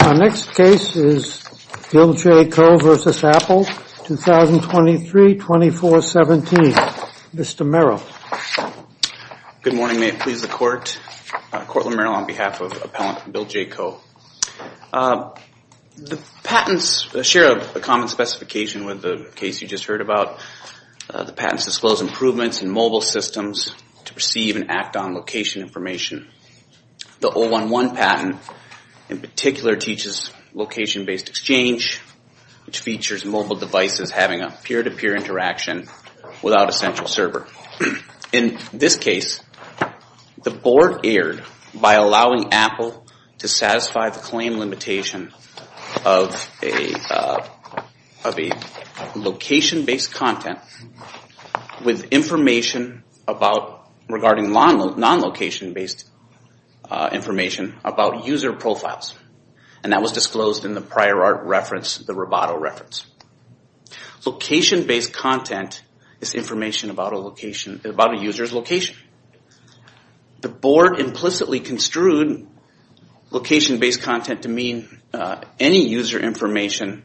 Our next case is Bill J. Coe v. Apple, 2023-2417. Mr. Merrill. Good morning, may it please the court. Courtland Merrill on behalf of appellant Bill J. Coe. The patents share a common specification with the case you just heard about. The patents disclose improvements in mobile systems to perceive and act on location information. The 011 patent in particular teaches location-based exchange, which features mobile devices having a peer-to-peer interaction without a central server. In this case, the board erred by allowing Apple to satisfy the claim limitation of a location-based content with information regarding non-location-based information about user profiles, and that was disclosed in the prior art reference, the Roboto reference. Location-based content is information about a user's location. The board implicitly construed location-based content to mean any user information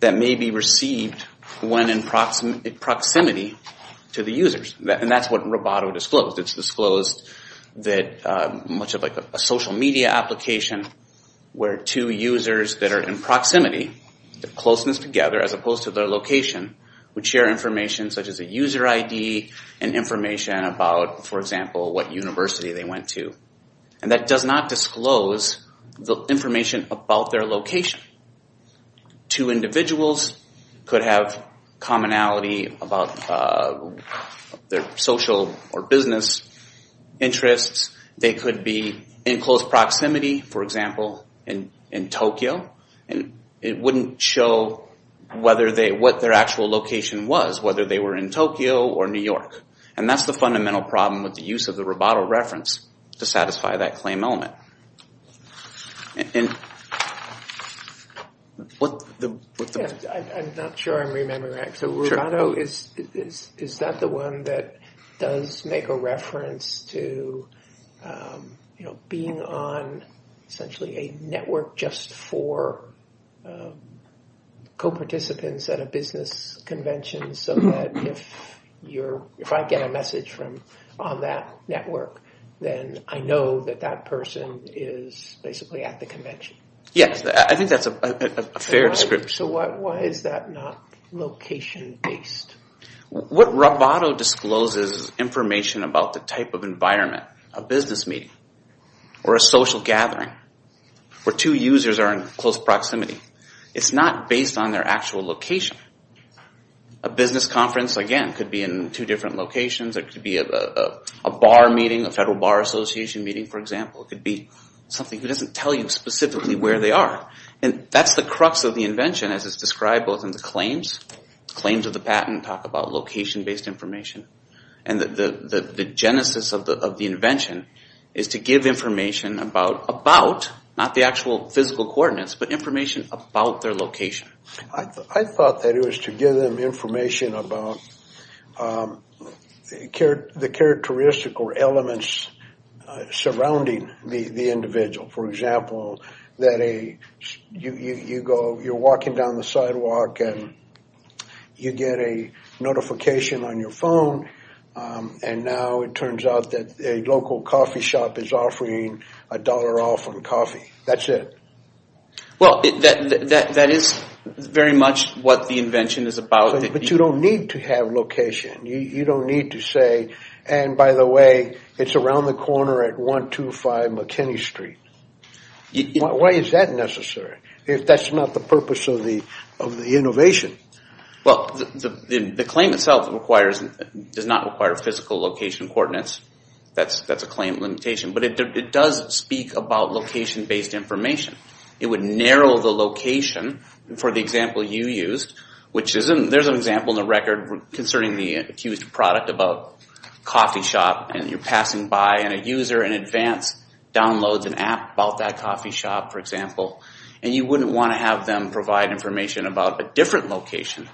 that may be received when in proximity to the users, and that's what Roboto disclosed. It's disclosed that much of a social media application where two users that are in proximity, the closeness together as opposed to their location, would share information such as a user ID and information about, for example, what university they went to. And that does not disclose the information about their location. Two individuals could have commonality about their social or business interests. They could be in close proximity, for example, in Tokyo, and it wouldn't show what their actual location was, whether they were in Tokyo or New York. And that's the problem with the use of the Roboto reference to satisfy that claim element. I'm not sure I'm remembering that. So Roboto, is that the one that does make a reference to being on essentially a network just for co-participants at a business convention so that if I get a message on that network, then I know that that person is basically at the convention. Yes, I think that's a fair description. So why is that not location-based? What Roboto discloses is information about the type of environment, a business meeting, or a social gathering where two users are in close proximity. It's not based on their actual location. A business conference, again, could be in two different locations. It could be a bar meeting, a federal bar association meeting, for example. It could be something that doesn't tell you specifically where they are. And that's the crux of the invention as it's described both in the claims. Claims of the patent talk about location-based information. And the genesis of the invention is to give information about, not the actual physical coordinates, but information about their location. I thought that it was to give them information about the characteristical elements surrounding the individual. For example, that you're walking down the sidewalk and you get a notification on your phone and now it turns out that a local coffee shop is offering a dollar off on coffee. That's it. Well, that is very much what the invention is about. But you don't need to have location. You don't need to say, and by the way, it's around the corner at 125 McKinney Street. Why is that necessary if that's not the purpose of the innovation? Well, the claim itself does not require physical location coordinates. That's a claim limitation. But it does speak about location-based information. It would narrow the location, for the example you used, which there's an example in the record concerning the accused product about a coffee shop and you're passing by and a user in advance downloads an app about that coffee shop, for example. And you wouldn't want to have them provide information about a different location.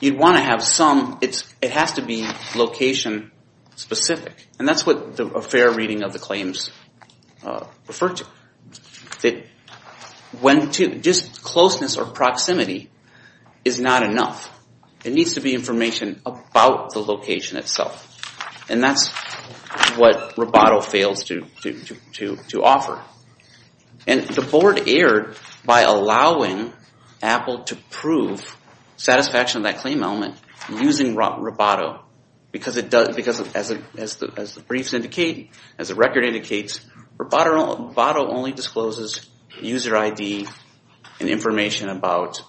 You'd want to have some, it has to be location-specific. And that's what a fair reading of the claims referred to. Just closeness or proximity is not enough. It needs to be information about the location itself. And that's what Roboto fails to offer. And the board erred by allowing Apple to prove satisfaction of that claim element using Roboto. Because as the briefs indicate, as the record indicates, Roboto only discloses user ID and information about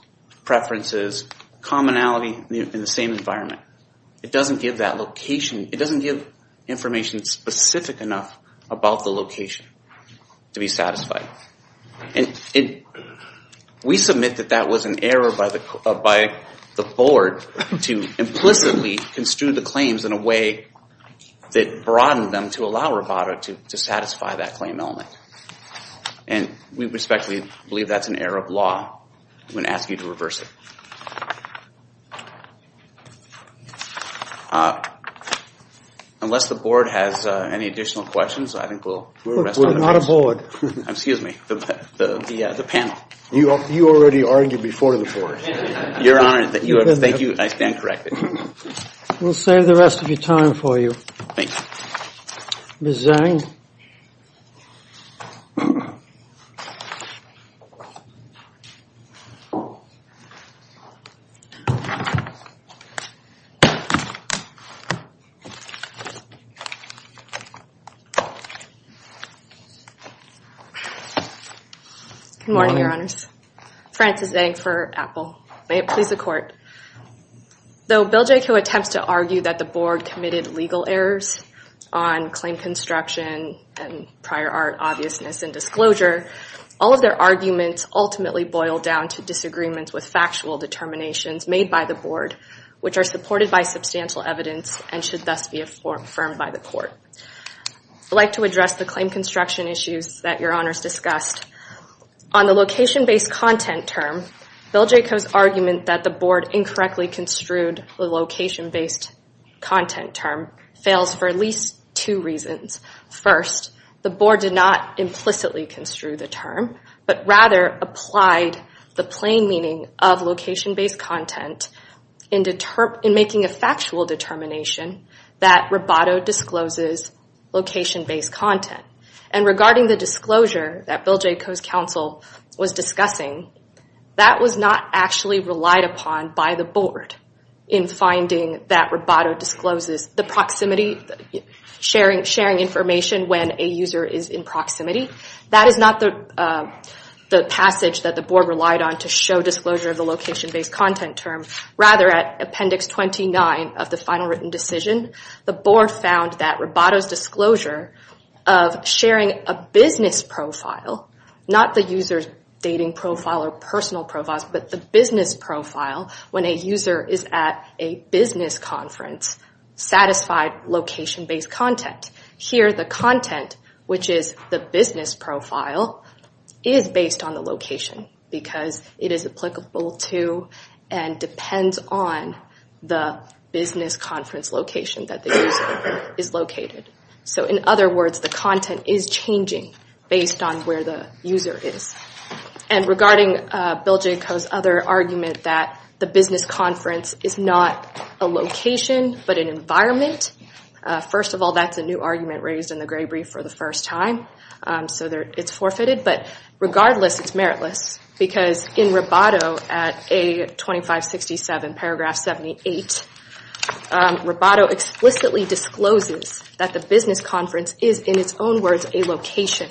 preferences, commonality in the same environment. It doesn't give that location, it doesn't give information specific enough about the location to be satisfied. And we submit that that was an error by the board to implicitly construe the claims in a way that broadened them to allow Roboto to satisfy that claim element. And we respectfully believe that's an error of law. I'm going to ask you to reverse it. Unless the board has any additional questions, I think we'll rest on the board. Excuse me, the panel. You already argued before the board. Your Honor, thank you, I stand corrected. We'll save the rest of the time for you. Ms. Zang? Good morning, Your Honors. Frances Zang for Apple. May it please the Court. Though Bill Jaicho attempts to argue that the Board committed legal errors on claim construction and prior art obviousness and disclosure, all of their arguments ultimately boil down to disagreements with factual determinations made by the Board, which are supported by substantial evidence and should thus be affirmed by the Court. I'd like to address the claim construction issues that Your Honors discussed. On the location-based content term fails for at least two reasons. First, the Board did not implicitly construe the term, but rather applied the plain meaning of location-based content in making a factual determination that Roboto discloses location-based content. And regarding the disclosure that Bill Jaicho's counsel was discussing, that was not actually relied upon by the Board in finding that Roboto discloses the proximity, sharing information when a user is in proximity. That is not the passage that the Board relied on to show disclosure of the location-based content term. Rather, at Appendix 29 of the final written decision, the Board found that Roboto's disclosure of sharing a business profile, not the user's dating profile or personal profiles, but the business profile when a user is at a business conference satisfied location-based content. Here, the content, which is the business profile, is based on the location because it is applicable to and depends on the business conference location that the user is located. So in other words, there is no argument that the business conference is not a location but an environment. First of all, that's a new argument raised in the Gray Brief for the first time, so it's forfeited. But regardless, it's meritless because in Roboto at A2567, paragraph 78, Roboto explicitly discloses that the business conference is, in its own words, a location.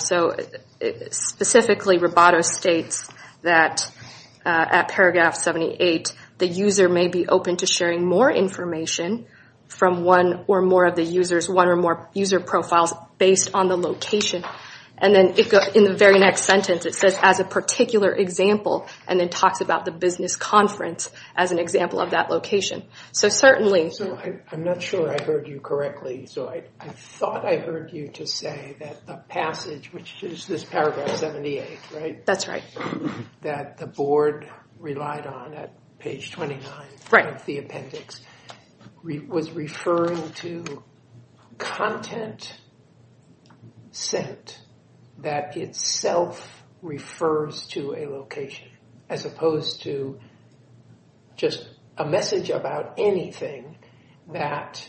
So specifically, Roboto states that at paragraph 78, the user may be open to sharing more information from one or more of the user's, one or more user profiles based on the location. And then in the very next sentence, it says, as a particular example, and then talks about the business conference as an example of that location. So certainly... So I'm not sure I heard you correctly, so I thought I heard you to say that the passage, which is this paragraph 78, right? That's right. That the board relied on at page 29 of the appendix was referring to content sent that itself refers to a location, as opposed to just a message about anything that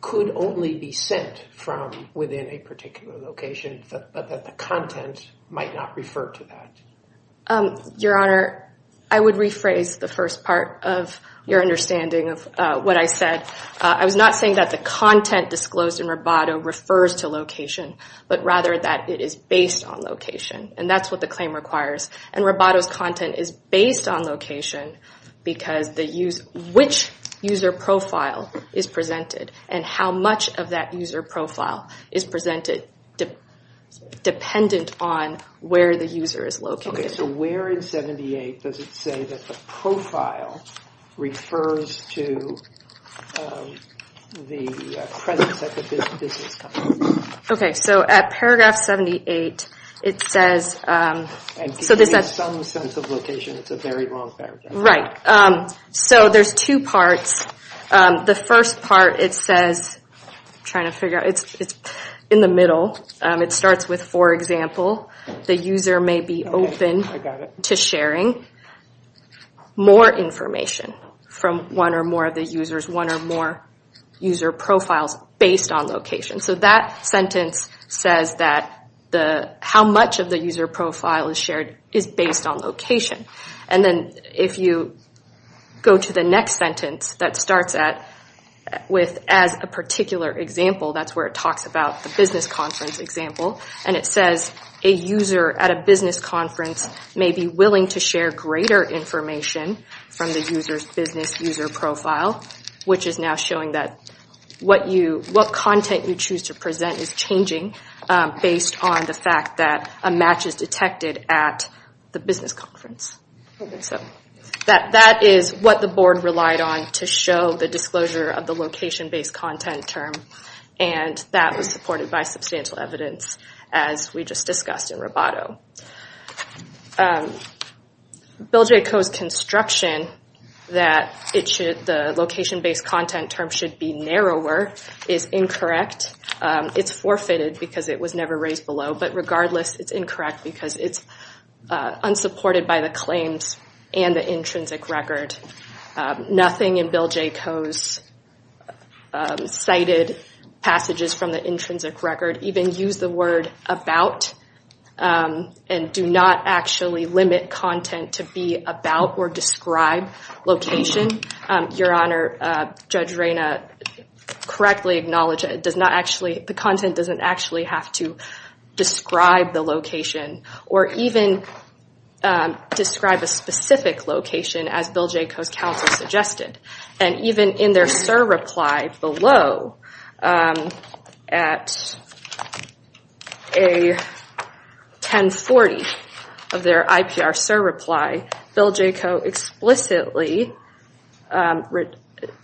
could only be sent from within a particular location, but that the content might not refer to that. Your Honor, I would rephrase the first part of your understanding of what I said. I was not saying that the content disclosed in Roboto refers to location, but rather that it is based on location. And that's what the user profile is presented, and how much of that user profile is presented dependent on where the user is located. Okay, so where in 78 does it say that the profile refers to the presence at the business conference? Okay, so at paragraph 78, it says... So there's two parts. The first part, it says, I'm trying to figure out, it's in the middle. It starts with, for example, the user may be open to sharing more information from one or more of the users, one or more user profiles based on location. So that sentence says that how much of the user profile is shared is based on location. And then if you go to the next sentence that starts with, as a particular example, that's where it talks about the business conference example. And it says, a user at a business conference may be willing to share greater information from the user's business user profile, which is now showing that what content you choose to present is changing based on the fact that a match is detected at the business conference. That is what the board relied on to show the disclosure of the location-based content term, and that was supported by substantial evidence as we just discussed in Roboto. Bill J. Coe's construction that the location-based content term should be narrower is incorrect. It's forfeited because it was never raised below, but regardless, it's incorrect because it's unsupported by the claims and the intrinsic record. Nothing in Bill J. Coe's cited passages from the intrinsic record even use the word about and do not actually limit content to be about or describe location. Your Honor, Judge Reyna correctly acknowledged that the content doesn't actually have to describe the location or even describe a specific location as Bill J. Coe's counsel suggested. And even in their SIR reply below, at a 1040 of their IPR SIR reply, Bill J. Coe explicitly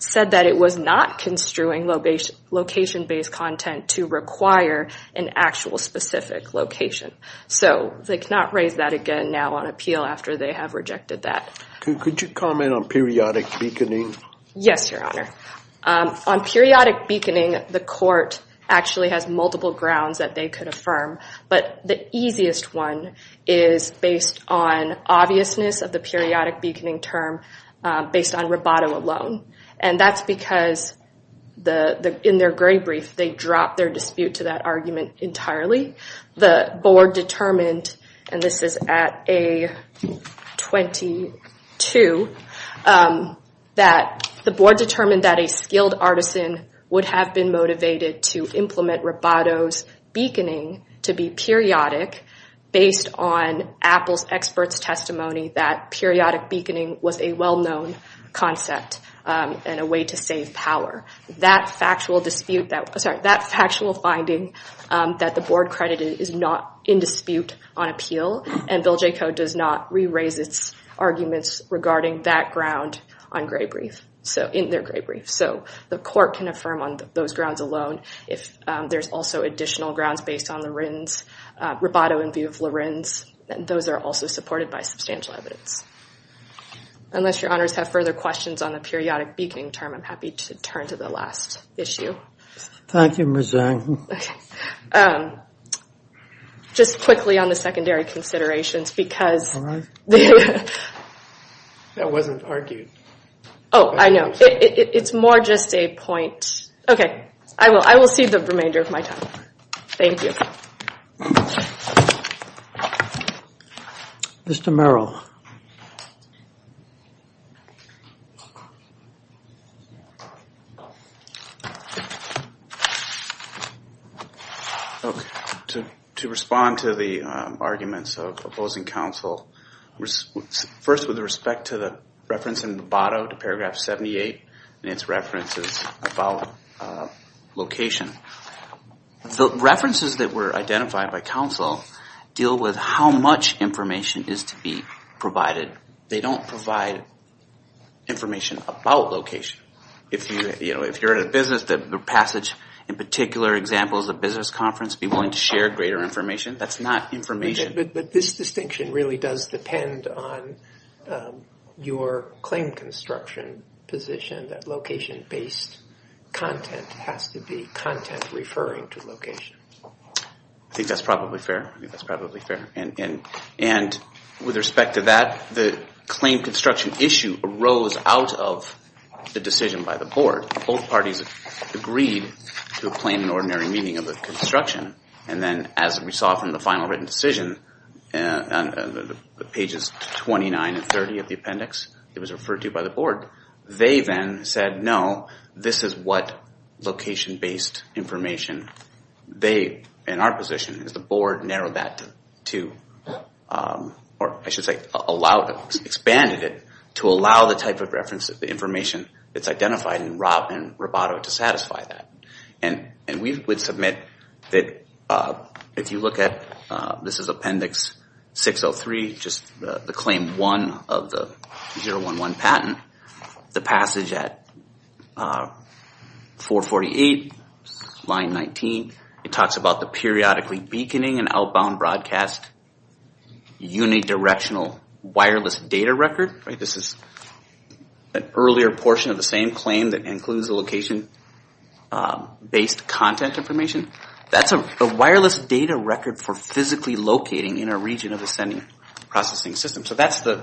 said that it was not construing location-based content to require an actual specific location. So they cannot raise that again now on appeal after they have rejected that. Could you comment on periodic beaconing? Yes, Your Honor. On periodic beaconing, the court actually has multiple grounds that they could affirm, but the easiest one is based on obviousness of the periodic beaconing term based on Roboto alone. And that's because in their gray brief, they dropped their dispute to that argument entirely. The board determined, and this is at A22, that the board determined that a skilled artisan would have been motivated to implement Roboto's beaconing to be periodic based on Apple's expert's testimony that periodic beaconing was a well-known concept. And a way to save power. That factual finding that the board credited is not in dispute on appeal, and Bill J. Coe does not re-raise its arguments regarding that ground in their gray brief. So the court can affirm on those grounds alone. If there's also additional grounds based on the Roboto in view of Lorenz, those are also supported by substantial evidence. Unless Your Honors have further questions on the periodic beaconing term, I'm happy to turn to the last issue. Thank you, Ms. Zhang. Just quickly on the secondary considerations, because... All right. That wasn't argued. Oh, I know. It's more just a point. Okay. I will see the remainder of my time. Thank you. Mr. Merrill. To respond to the arguments of opposing counsel, first with respect to the reference in Roboto to paragraph 78 and its references about location. The references that were identified by counsel deal with how much information is to be provided. They don't provide information about location. If you're in a business, the passage in particular example is a business conference, be willing to share greater information. That's not information. But this distinction really does depend on your claim construction position, that location-based content has to be content referring to location. I think that's probably fair. I think that's probably fair. And with respect to that, the claim construction issue arose out of the decision by the board. Both parties agreed to a plain and ordinary meaning of the construction. And then as we saw from the final written decision, pages 29 and 30 of the appendix, it was referred to by the board. They then said, no, this is what location-based information they, in our position, as the board, narrowed that to... Expanded it to allow the type of reference, the information that's identified in Roboto to satisfy that. And we would submit that if you look at, this is appendix 603, just the claim one of the 011 patent, the passage at 448, line 19, it talks about the periodically beaconing and outbound broadcast unidirectly. That's a unidirectional wireless data record. This is an earlier portion of the same claim that includes the location-based content information. That's a wireless data record for physically locating in a region of a sending processing system. So that's the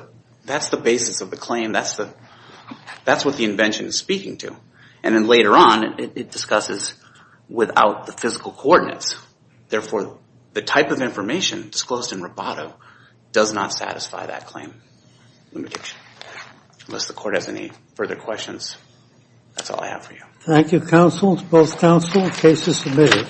basis of the claim. That's what the invention is speaking to. And then later on, it discusses without the physical coordinates. Therefore, the type of information disclosed in Roboto does not satisfy that claim. Unless the court has any further questions, that's all I have for you. Thank you, counsel. It's both counsel. Case is submitted.